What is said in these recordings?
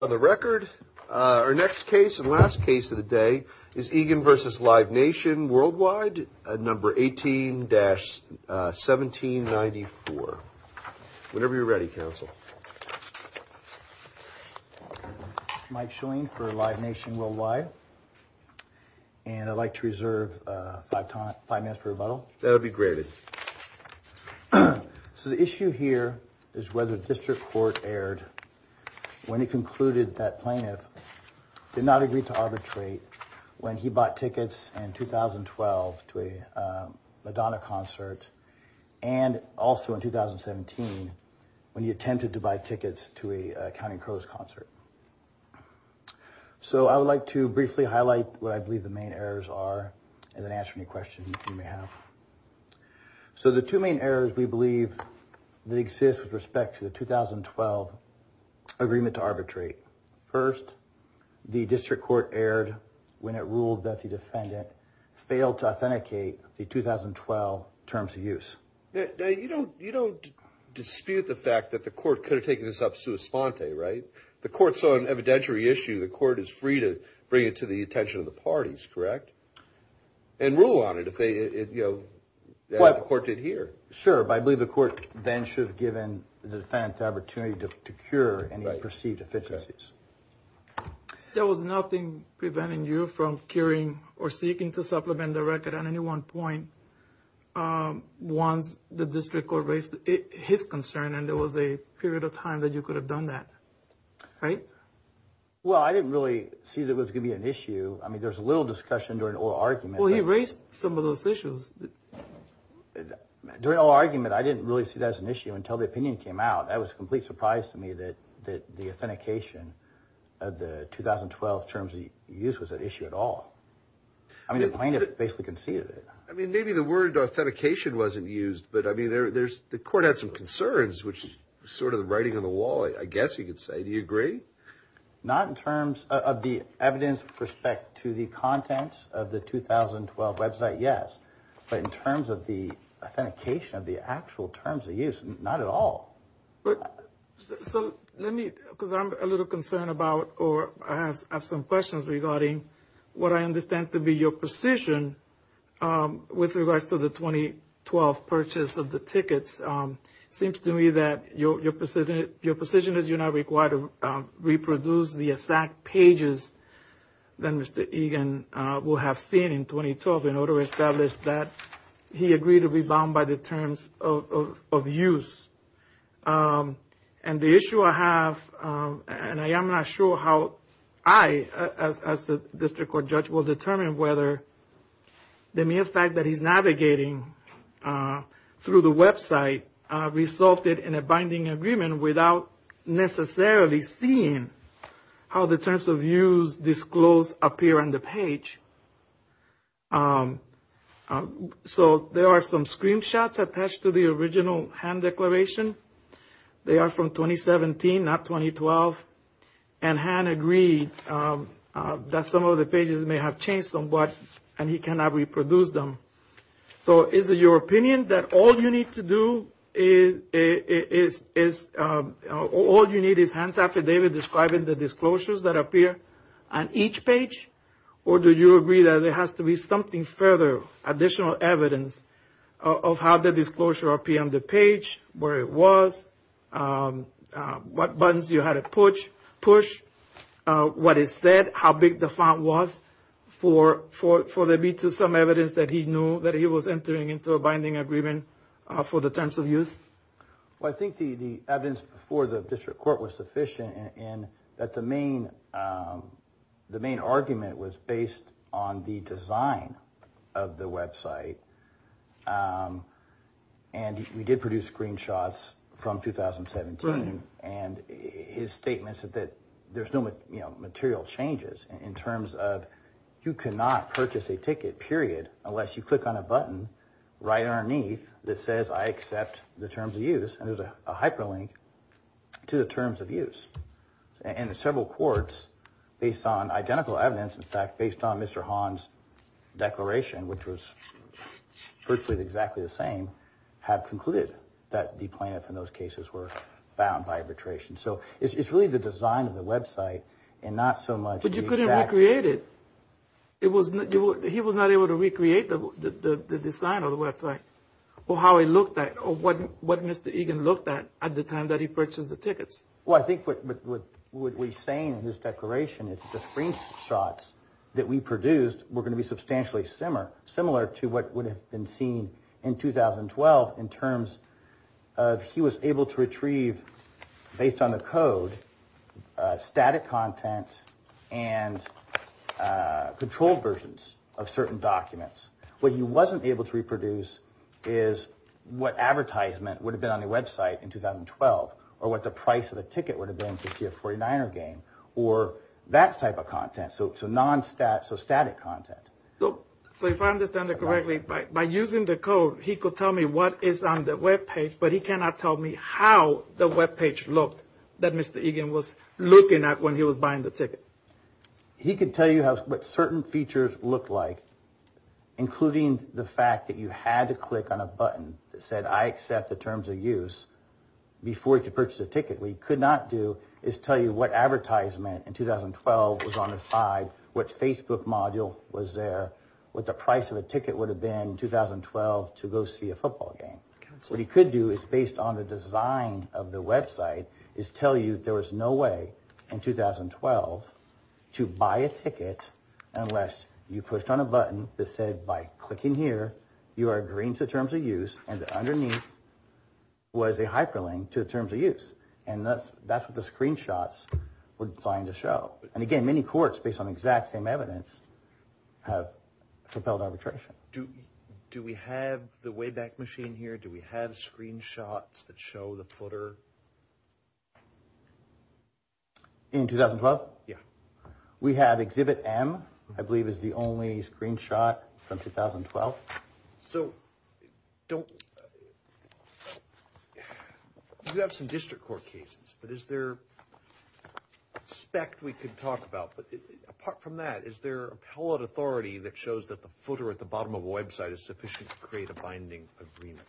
On the record, our next case and last case of the day is Egan v. Live Nation Worldwide, number 18-1794. Whenever you're ready, counsel. Mike Schoen for Live Nation Worldwide. And I'd like to reserve five minutes for rebuttal. That would be granted. So the issue here is whether the district court erred when it concluded that plaintiff did not agree to arbitrate when he bought tickets in 2012 to a Madonna concert and also in 2017 when he attempted to buy tickets to a Counting Crows concert. So I would like to briefly highlight what I believe the main errors are and then answer any questions you may have. So the two main errors we believe that exist with respect to the 2012 agreement to arbitrate. First, the district court erred when it ruled that the defendant failed to authenticate the 2012 terms of use. Now, you don't dispute the fact that the court could have taken this up sua sponte, right? The court saw an evidentiary issue. The court is free to bring it to the attention of the parties, correct? And rule on it as the court did here. Sure, but I believe the court then should have given the defendant the opportunity to cure any perceived deficiencies. There was nothing preventing you from curing or seeking to supplement the record at any one point once the district court raised his concern and there was a period of time that you could have done that, right? Well, I didn't really see that was going to be an issue. I mean, there's a little discussion during oral argument. Well, he raised some of those issues. During oral argument, I didn't really see that as an issue until the opinion came out. That was a complete surprise to me that the authentication of the 2012 terms of use was an issue at all. I mean, the plaintiff basically conceded it. I mean, maybe the word authentication wasn't used, but I mean, the court had some concerns, which was sort of the writing on the wall, I guess you could say. Do you agree? Not in terms of the evidence with respect to the contents of the 2012 website, yes, but in terms of the authentication of the actual terms of use, not at all. Let me, because I'm a little concerned about or I have some questions regarding what I understand to be your position with regards to the 2012 purchase of the tickets. It seems to me that your position is you're not required to reproduce the exact pages that Mr. Egan will have seen in 2012 in order to establish that he agreed to be bound by the terms of use. And the issue I have, and I am not sure how I, as the district court judge, will determine whether the mere fact that he's navigating through the website resulted in a binding agreement without necessarily seeing how the terms of use disclosed appear on the page. So there are some screenshots attached to the original HAN declaration. They are from 2017, not 2012, and HAN agreed that some of the pages may have changed somewhat and he cannot reproduce them. So is it your opinion that all you need to do is, all you need is HAN's affidavit describing the disclosures that appear on each page? Or do you agree that there has to be something further, additional evidence of how the disclosure appeared on the page, where it was, what buttons you had to push, what it said, how big the font was, for there to be some evidence that he knew that he was entering into a binding agreement for the terms of use? Well, I think the evidence before the district court was sufficient in that the main argument was based on the design of the website. And we did produce screenshots from 2017 and his statements that there's no material changes in terms of you cannot purchase a ticket, period, unless you click on a button right underneath that says I accept the terms of use and there's a hyperlink to the terms of use. And several courts, based on identical evidence, in fact, based on Mr. HAN's declaration, which was virtually exactly the same, have concluded that the plaintiffs in those cases were bound by arbitration. So it's really the design of the website and not so much the exact… But you couldn't recreate it. He was not able to recreate the design of the website or how it looked at, or what Mr. Egan looked at at the time that he purchased the tickets. Well, I think what we're saying in his declaration is the screenshots that we produced were going to be substantially similar to what would have been seen in 2012 in terms of he was able to retrieve, based on the code, static content and controlled versions of certain documents. What he wasn't able to reproduce is what advertisement would have been on the website in 2012 or what the price of a ticket would have been to see a 49er game or that type of content, so static content. So if I understand it correctly, by using the code, he could tell me what is on the webpage, but he cannot tell me how the webpage looked that Mr. Egan was looking at when he was buying the ticket. He could tell you what certain features looked like, including the fact that you had to click on a button that said, I accept the terms of use, before he could purchase a ticket. What he could not do is tell you what advertisement in 2012 was on the side, what Facebook module was there, what the price of a ticket would have been in 2012 to go see a football game. What he could do is, based on the design of the website, is tell you there was no way in 2012 to buy a ticket unless you pushed on a button that said, by clicking here, you are agreeing to terms of use, and underneath was a hyperlink to terms of use. And that's what the screenshots were designed to show. And again, many courts, based on the exact same evidence, have propelled arbitration. Do we have the Wayback Machine here? Do we have screenshots that show the footer? In 2012? Yeah. We have Exhibit M, I believe is the only screenshot from 2012. So, you have some district court cases, but is there a speck we could talk about? But apart from that, is there appellate authority that shows that the footer at the bottom of a website is sufficient to create a binding agreement?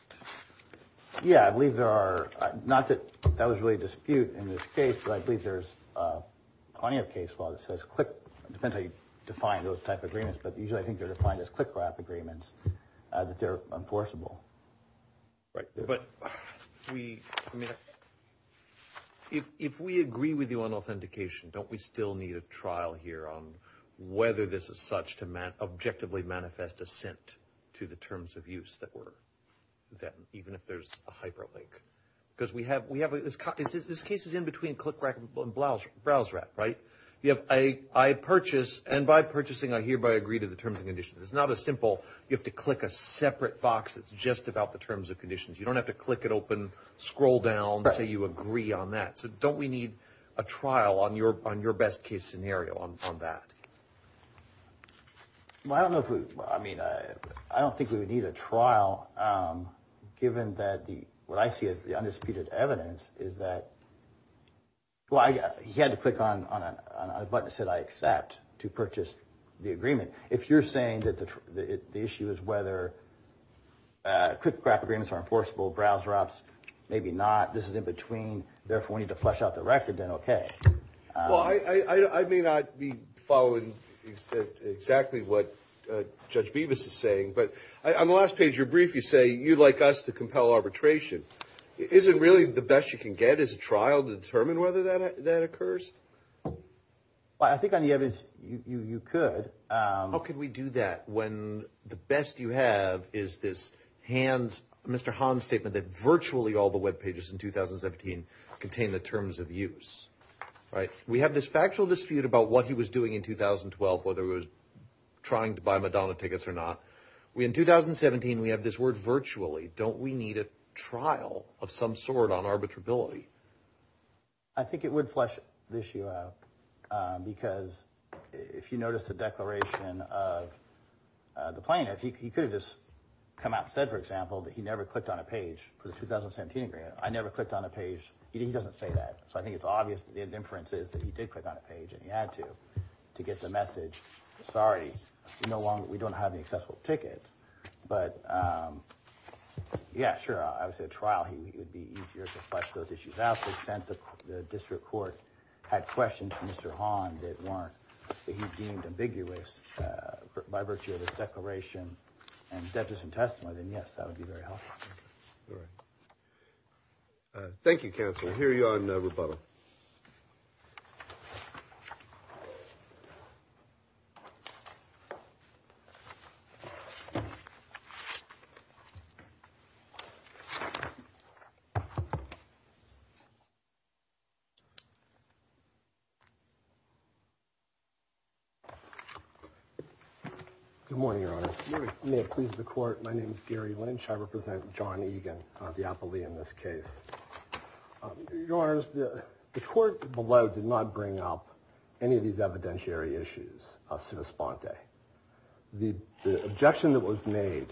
Yeah, I believe there are, not that that was really a dispute in this case, but I believe there's plenty of case law that says click, it depends how you define those type of agreements, but usually I think they're defined as click wrap agreements, that they're enforceable. Right. But if we agree with you on authentication, don't we still need a trial here on whether this is such to objectively manifest assent to the terms of use that were, even if there's a hyperlink? Because we have, this case is in between click wrap and browse wrap, right? I purchase, and by purchasing I hereby agree to the terms and conditions. It's not as simple, you have to click a separate box that's just about the terms and conditions. You don't have to click it open, scroll down, say you agree on that. So, don't we need a trial on your best case scenario on that? Well, I don't know if we, I mean, I don't think we would need a trial given that the, what I see as the undisputed evidence is that, well, he had to click on a button that said I accept to purchase the agreement. If you're saying that the issue is whether click wrap agreements are enforceable, browse wraps, maybe not, this is in between, therefore we need to flesh out the record, then okay. Well, I may not be following exactly what Judge Bevis is saying, but on the last page of your brief you say you'd like us to compel arbitration. Is it really the best you can get as a trial to determine whether that occurs? Well, I think on the evidence you could. How could we do that when the best you have is this hands, Mr. Hahn's statement that virtually all the webpages in 2017 contain the terms of use, right? We have this factual dispute about what he was doing in 2012, whether he was trying to buy Madonna tickets or not. In 2017 we have this word virtually. Don't we need a trial of some sort on arbitrability? I think it would flesh the issue out because if you notice the declaration of the plaintiff, he could have just come out and said, for example, that he never clicked on a page for the 2017 agreement. I never clicked on a page. He doesn't say that. So I think it's obvious that the inference is that he did click on a page and he had to to get the message, sorry, we don't have any accessible tickets. But, yeah, sure, I would say a trial. He would be easier to flush those issues out. They sent the district court had questions from Mr. Hahn that weren't deemed ambiguous by virtue of this declaration and that doesn't testify. Then, yes, that would be very helpful. Thank you, counsel. I hear you on the rebuttal. Good morning, your honor. Please, the court. My name is Gary Lynch. I represent Johnny again. The appellee in this case. Yours. The court below did not bring up any of these evidentiary issues. The objection that was made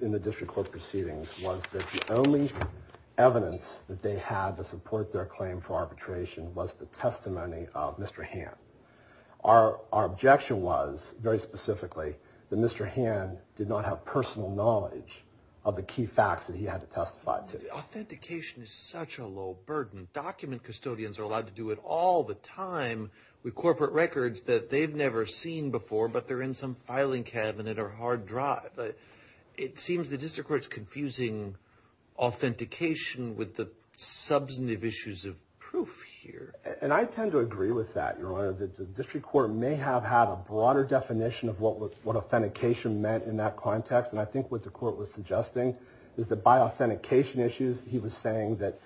in the district court proceedings was that the only evidence that they had to support their claim for arbitration was the testimony of Mr. Our objection was very specifically that Mr. Han did not have personal knowledge of the key facts that he had to testify to. Authentication is such a low burden. Document custodians are allowed to do it all the time with corporate records that they've never seen before. But they're in some filing cabinet or hard drive. It seems the district court's confusing authentication with the substantive issues of proof here. And I tend to agree with that. Your honor, the district court may have had a broader definition of what what authentication meant in that context. And I think what the court was suggesting is that by authentication issues, he was saying that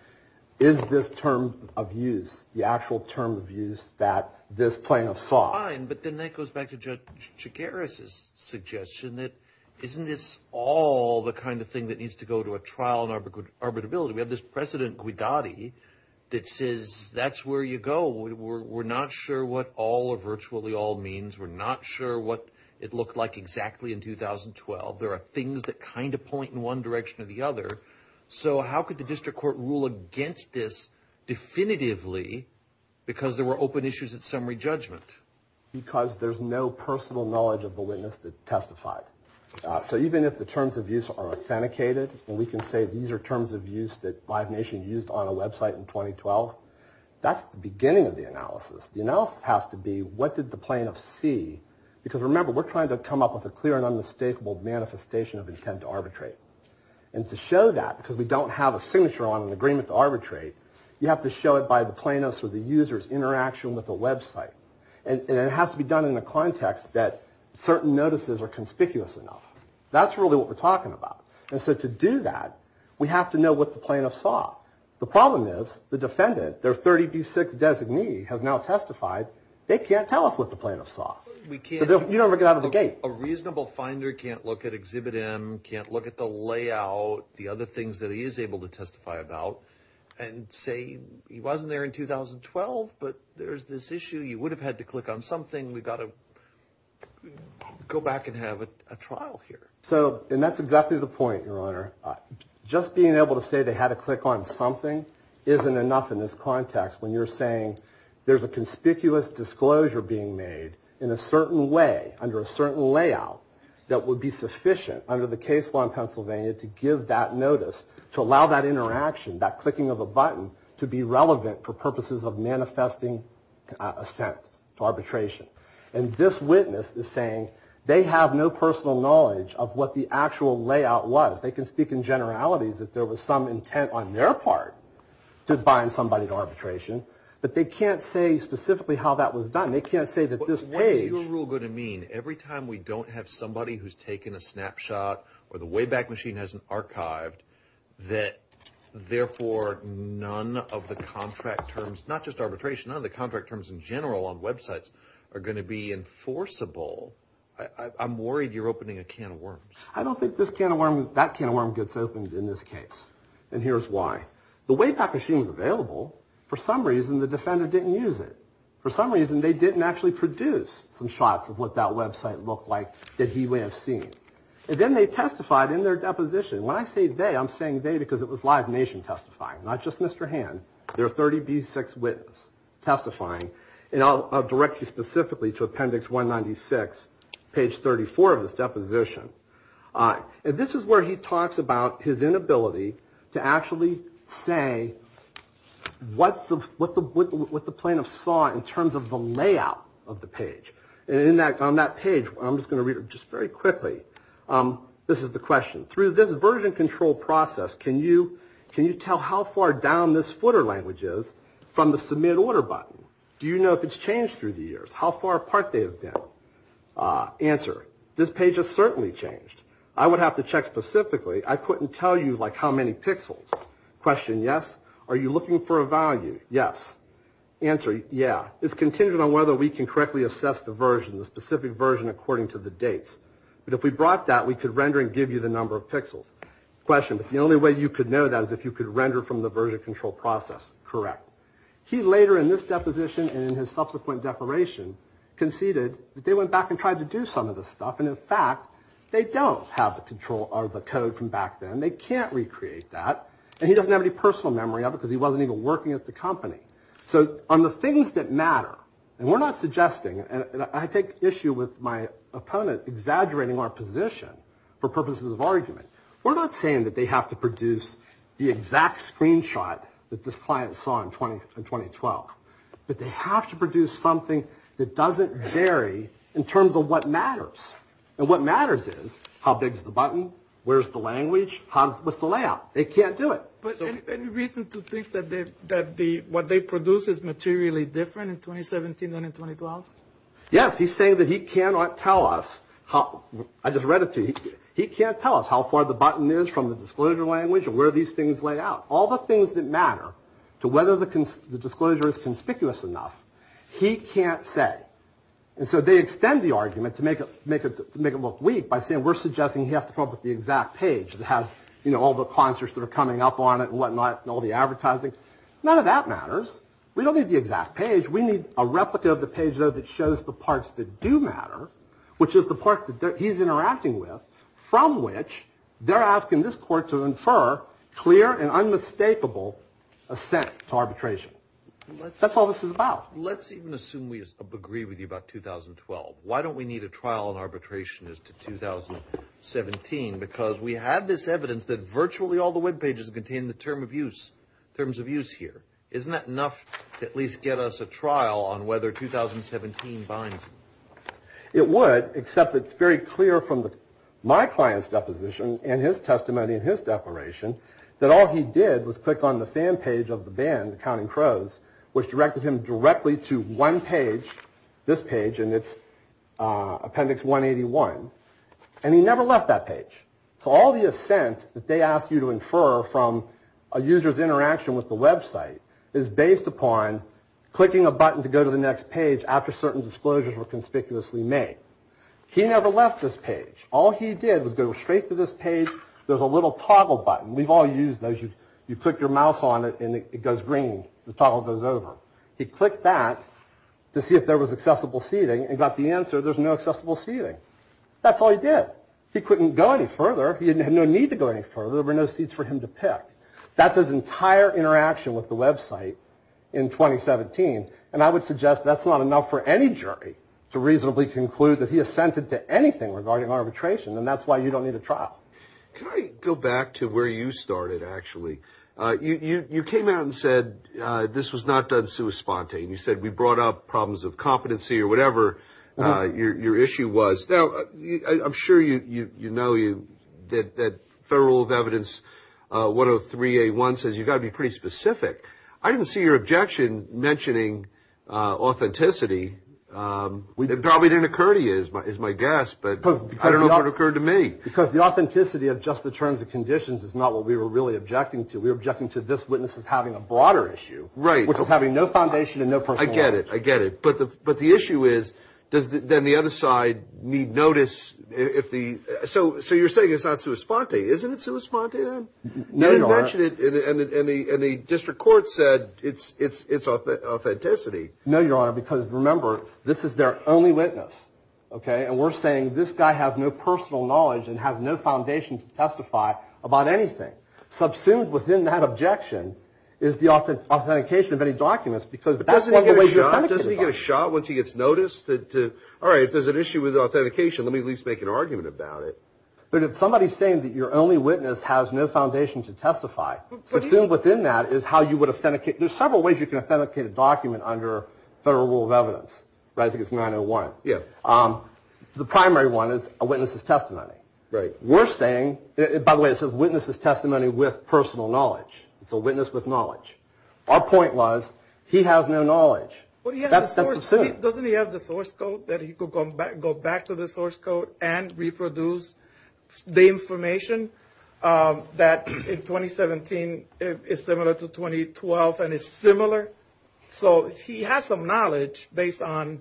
is this term of use the actual term of use that this plaintiff saw. But then that goes back to Jack Harris's suggestion that isn't this all the kind of thing that needs to go to a trial and arbitrability. We have this precedent. We got it. It says that's where you go. We're not sure what all of virtually all means. We're not sure what it looked like exactly in 2012. There are things that kind of point in one direction or the other. So how could the district court rule against this definitively because there were open issues at summary judgment? Because there's no personal knowledge of the witness that testified. So even if the terms of use are authenticated and we can say these are terms of use that Five Nation used on a Web site in 2012, that's the beginning of the analysis. The analysis has to be what did the plaintiff see? Because remember, we're trying to come up with a clear and unmistakable manifestation of intent to arbitrate. And to show that because we don't have a signature on an agreement to arbitrate, you have to show it by the plaintiff's or the user's interaction with the Web site. And it has to be done in a context that certain notices are conspicuous enough. That's really what we're talking about. And so to do that, we have to know what the plaintiff saw. The problem is the defendant, their 30B6 designee, has now testified. They can't tell us what the plaintiff saw. So you don't get out of the gate. A reasonable finder can't look at Exhibit M, can't look at the layout, the other things that he is able to testify about, and say he wasn't there in 2012, but there's this issue. You would have had to click on something. We've got to go back and have a trial here. And that's exactly the point, Your Honor. Just being able to say they had to click on something isn't enough in this context. When you're saying there's a conspicuous disclosure being made in a certain way, under a certain layout, that would be sufficient under the case law in Pennsylvania to give that notice, to allow that interaction, that clicking of a button, to be relevant for purposes of manifesting assent, arbitration. And this witness is saying they have no personal knowledge of what the actual layout was. They can speak in generalities that there was some intent on their part to bind somebody to arbitration, but they can't say specifically how that was done. They can't say that this page. What is your rule going to mean? Every time we don't have somebody who's taken a snapshot, or the Wayback Machine hasn't archived, that therefore none of the contract terms, not just arbitration, none of the contract terms in general on websites are going to be enforceable. I'm worried you're opening a can of worms. I don't think that can of worms gets opened in this case, and here's why. The Wayback Machine was available. For some reason, the defendant didn't use it. For some reason, they didn't actually produce some shots of what that website looked like that he may have seen. And then they testified in their deposition. When I say they, I'm saying they because it was Live Nation testifying, not just Mr. Hand. There are 30B6 witnesses testifying, and I'll direct you specifically to Appendix 196, page 34 of this deposition. And this is where he talks about his inability to actually say what the plaintiff saw in terms of the layout of the page. And on that page, I'm just going to read it just very quickly, this is the question. Through this version control process, can you tell how far down this footer language is from the Submit Order button? Do you know if it's changed through the years? How far apart they have been? Answer, this page has certainly changed. I would have to check specifically. I couldn't tell you, like, how many pixels. Question, yes. Are you looking for a value? Yes. Answer, yeah. It's contingent on whether we can correctly assess the version, the specific version, according to the dates. But if we brought that, we could render and give you the number of pixels. Question, the only way you could know that is if you could render from the version control process. Correct. He later in this deposition and in his subsequent declaration conceded that they went back and tried to do some of this stuff. And, in fact, they don't have the control or the code from back then. They can't recreate that. And he doesn't have any personal memory of it because he wasn't even working at the company. So on the things that matter, and we're not suggesting, and I take issue with my opponent exaggerating our position for purposes of argument. We're not saying that they have to produce the exact screenshot that this client saw in 2012. But they have to produce something that doesn't vary in terms of what matters. And what matters is how big is the button, where is the language, what's the layout. They can't do it. But any reason to think that what they produce is materially different in 2017 than in 2012? Yes. He's saying that he cannot tell us. I just read it to you. He can't tell us how far the button is from the disclosure language or where these things lay out. All the things that matter to whether the disclosure is conspicuous enough, he can't say. And so they extend the argument to make it look weak by saying we're suggesting he has to come up with the exact page that has, you know, all the concerts that are coming up on it and whatnot and all the advertising. None of that matters. We don't need the exact page. We need a replica of the page, though, that shows the parts that do matter, which is the part that he's interacting with, from which they're asking this court to infer clear and unmistakable assent to arbitration. That's all this is about. Let's even assume we agree with you about 2012. Why don't we need a trial in arbitration as to 2017? Because we have this evidence that virtually all the Web pages contain the terms of use here. Isn't that enough to at least get us a trial on whether 2017 binds it? It would, except it's very clear from my client's deposition and his testimony and his declaration that all he did was click on the fan page of the band, The Counting Crows, which directed him directly to one page, this page, and it's appendix 181. And he never left that page. So all the assent that they asked you to infer from a user's interaction with the Web site is based upon clicking a button to go to the next page after certain disclosures were conspicuously made. He never left this page. All he did was go straight to this page. There's a little toggle button. We've all used those. You click your mouse on it and it goes green. The toggle goes over. He clicked that to see if there was accessible seating and got the answer. There's no accessible seating. That's all he did. He couldn't go any further. He didn't have no need to go any further. There were no seats for him to pick. That's his entire interaction with the Web site in 2017. And I would suggest that's not enough for any jury to reasonably conclude that he assented to anything regarding arbitration. And that's why you don't need a trial. Go back to where you started. Actually, you came out and said this was not done. So it was spontaneous. We brought up problems of competency or whatever your issue was. Now, I'm sure you know that Federal Rule of Evidence 103A1 says you've got to be pretty specific. I didn't see your objection mentioning authenticity. It probably didn't occur to you, is my guess, but I don't know if it occurred to me. Because the authenticity of just the terms and conditions is not what we were really objecting to. We were objecting to this witness as having a broader issue, which is having no foundation and no personal knowledge. I get it. I get it. But the issue is, does then the other side need notice? So you're saying it's not sui sponte. Isn't it sui sponte then? No, Your Honor. And the district court said it's authenticity. No, Your Honor, because remember, this is their only witness. Okay? And we're saying this guy has no personal knowledge and has no foundation to testify about anything. Subsumed within that objection is the authentication of any documents. Doesn't he get a shot once he gets noticed? All right, if there's an issue with authentication, let me at least make an argument about it. But if somebody's saying that your only witness has no foundation to testify, subsumed within that is how you would authenticate. There's several ways you can authenticate a document under Federal Rule of Evidence. Right? I think it's 901. Yeah. The primary one is a witness's testimony. Right. We're saying, by the way, it says witness's testimony with personal knowledge. It's a witness with knowledge. Our point was, he has no knowledge. That's subsumed. Doesn't he have the source code that he could go back to the source code and reproduce the information that in 2017 is similar to 2012 and is similar? So he has some knowledge based on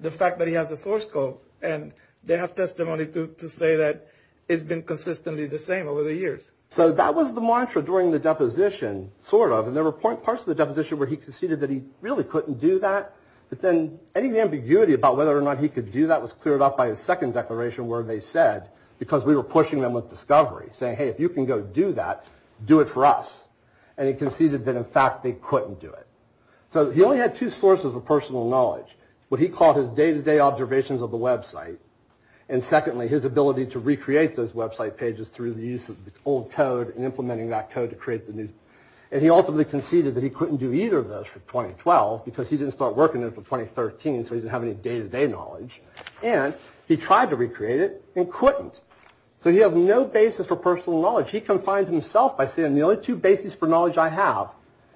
the fact that he has the source code. And they have testimony to say that it's been consistently the same over the years. So that was the mantra during the deposition, sort of. And there were parts of the deposition where he conceded that he really couldn't do that. But then any ambiguity about whether or not he could do that was cleared up by his second declaration where they said, because we were pushing them with discovery, saying, hey, if you can go do that, do it for us. And he conceded that, in fact, they couldn't do it. So he only had two sources of personal knowledge. What he called his day-to-day observations of the website. And secondly, his ability to recreate those website pages through the use of the old code and implementing that code to create the new. And he ultimately conceded that he couldn't do either of those for 2012 because he didn't start working in it for 2013, so he didn't have any day-to-day knowledge. And he tried to recreate it and couldn't. So he has no basis for personal knowledge. He confines himself by saying, the only two bases for knowledge I have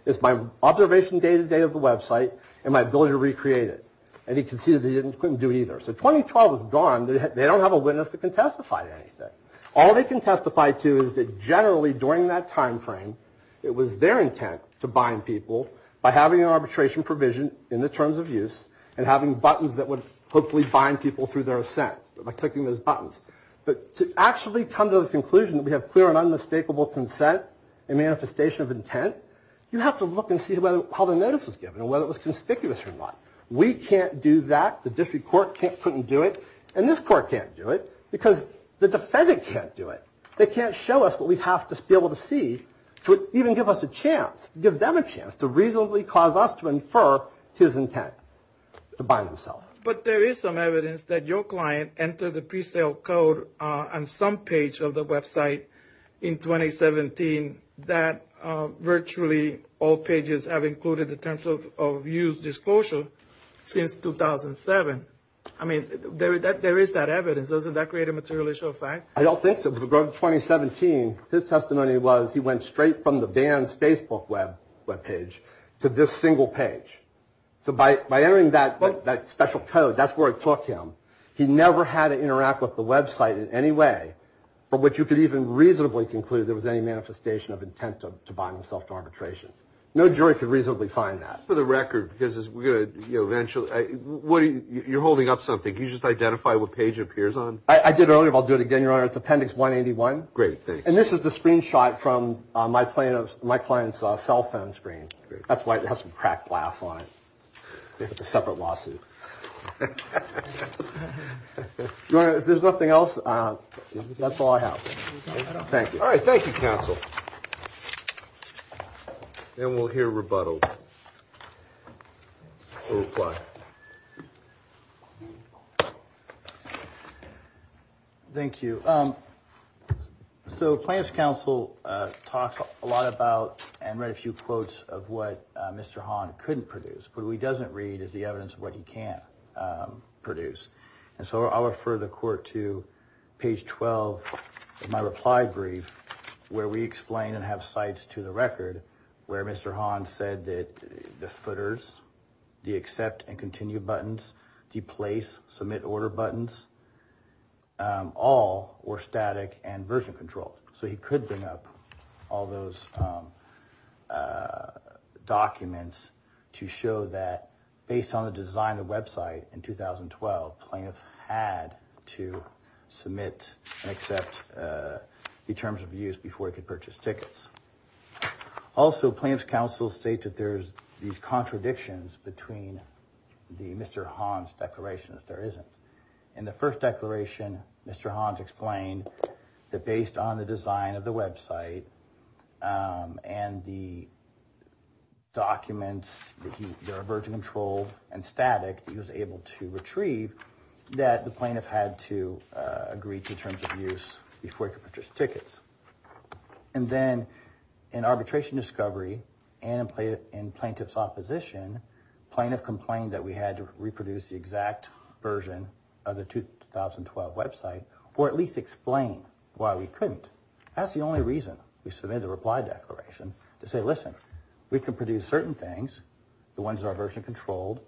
is my observation day-to-day of the website and my ability to recreate it. And he conceded that he couldn't do either. So 2012 is gone. They don't have a witness that can testify to anything. All they can testify to is that generally during that time frame, it was their intent to bind people by having an arbitration provision in the terms of use and having buttons that would hopefully bind people through their assent by clicking those buttons. But to actually come to the conclusion that we have clear and unmistakable consent and manifestation of intent, you have to look and see how the notice was given and whether it was conspicuous or not. We can't do that. The district court couldn't do it. And this court can't do it because the defendant can't do it. They can't show us what we have to be able to see to even give us a chance, give them a chance to reasonably cause us to infer his intent to bind himself. But there is some evidence that your client entered the pre-sale code on some page of the website in 2017 that virtually all pages have included the terms of use disclosure since 2007. I mean, there is that evidence. Doesn't that create a material issue of fact? I don't think so. 2017. His testimony was he went straight from the band's Facebook web page to this single page. So by entering that special code, that's where it took him. He never had to interact with the website in any way from which you could even reasonably conclude there was any manifestation of intent to bind himself to arbitration. No jury could reasonably find that. For the record, because we're going to eventually. You're holding up something. You just identify what page it appears on. I did earlier. I'll do it again. Your Honor, it's Appendix 181. Great. And this is the screenshot from my client's cell phone screen. That's why it has some cracked glass on it. It's a separate lawsuit. Your Honor, if there's nothing else, that's all I have. Thank you. All right. Thank you, counsel. Then we'll hear rebuttal. We'll reply. Thank you. So client's counsel talks a lot about and read a few quotes of what Mr. Hahn couldn't produce. What he doesn't read is the evidence of what he can produce. And so I'll refer the court to page 12 of my reply brief where we explain and have cites to the record where Mr. Hahn said that the footers, the accept and continue buttons, the place, submit order buttons, all were static and version controlled. So he could bring up all those documents to show that based on the design of the website in 2012, plaintiff had to submit and accept the terms of use before he could purchase tickets. Also, plaintiff's counsel states that there's these contradictions between the Mr. Hahn's declaration that there isn't. In the first declaration, Mr. Hahn's explained that based on the design of the website and the documents that are version controlled and static, he was able to retrieve that the plaintiff had to agree to terms of use before he could purchase tickets. And then in arbitration discovery and in plaintiff's opposition, plaintiff complained that we had to reproduce the exact version of the 2012 website or at least explain why we couldn't. That's the only reason we submitted the reply declaration, to say, listen, we can produce certain things, the ones that are version controlled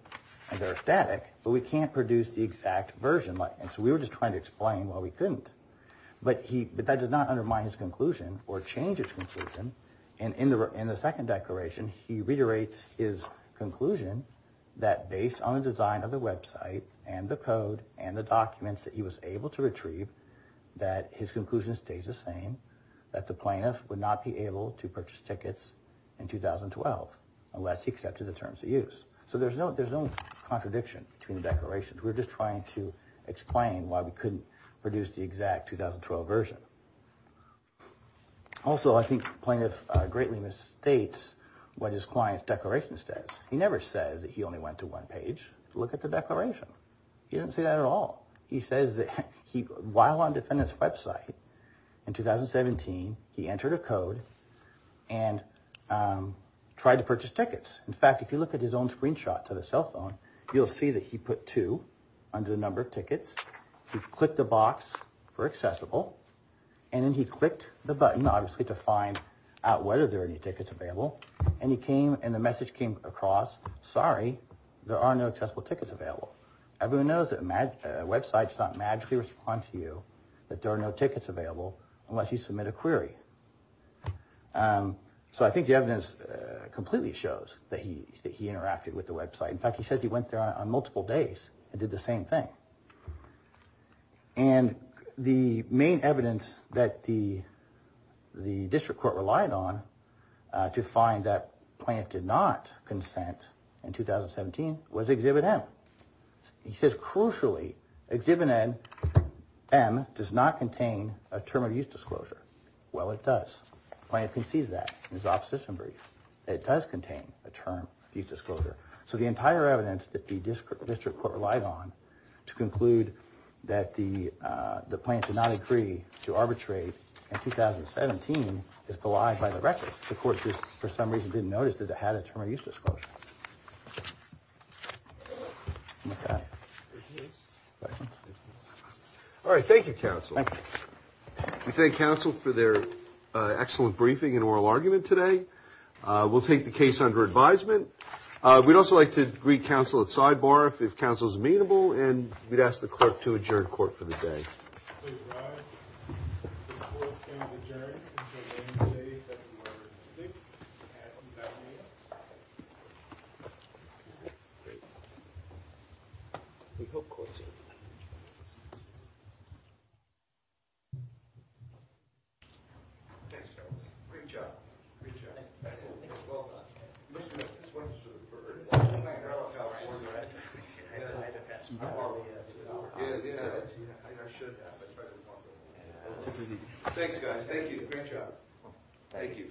and they're static, but we can't produce the exact version. And so we were just trying to explain why we couldn't. But that does not undermine his conclusion or change his conclusion. And in the second declaration, he reiterates his conclusion that based on the design of the website and the code and the documents that he was able to retrieve, that his conclusion stays the same. That the plaintiff would not be able to purchase tickets in 2012 unless he accepted the terms of use. So there's no contradiction between the declarations. We're just trying to explain why we couldn't produce the exact 2012 version. Also, I think plaintiff greatly misstates what his client's declaration says. He never says that he only went to one page to look at the declaration. He didn't say that at all. He says that while on defendant's website in 2017, he entered a code and tried to purchase tickets. In fact, if you look at his own screenshot to the cell phone, you'll see that he put two under the number of tickets. He clicked the box for accessible. And then he clicked the button, obviously, to find out whether there are any tickets available. And he came and the message came across, sorry, there are no accessible tickets available. Everyone knows that websites don't magically respond to you that there are no tickets available unless you submit a query. So I think the evidence completely shows that he interacted with the website. In fact, he says he went there on multiple days and did the same thing. And the main evidence that the district court relied on to find that plaintiff did not consent in 2017 was Exhibit M. He says, crucially, Exhibit M does not contain a term of use disclosure. Well, it does. Plaintiff concedes that in his opposition brief. It does contain a term of use disclosure. So the entire evidence that the district court relied on to conclude that the plaintiff did not agree to arbitrate in 2017 is belied by the record. The court, for some reason, didn't notice that it had a term of use disclosure. All right. Thank you, counsel. We thank counsel for their excellent briefing and oral argument today. We'll take the case under advisement. We'd also like to greet counsel at sidebar if counsel's amenable. And we'd ask the clerk to adjourn court for the day. All rise. The court is adjourned until the end of the day. Six. We hope. Thanks, guys. Great job. Great job. Well done. All right. Thanks, guys. Thank you. Great job. Thank you. Thank you. Thank you. Thank you. Thank you.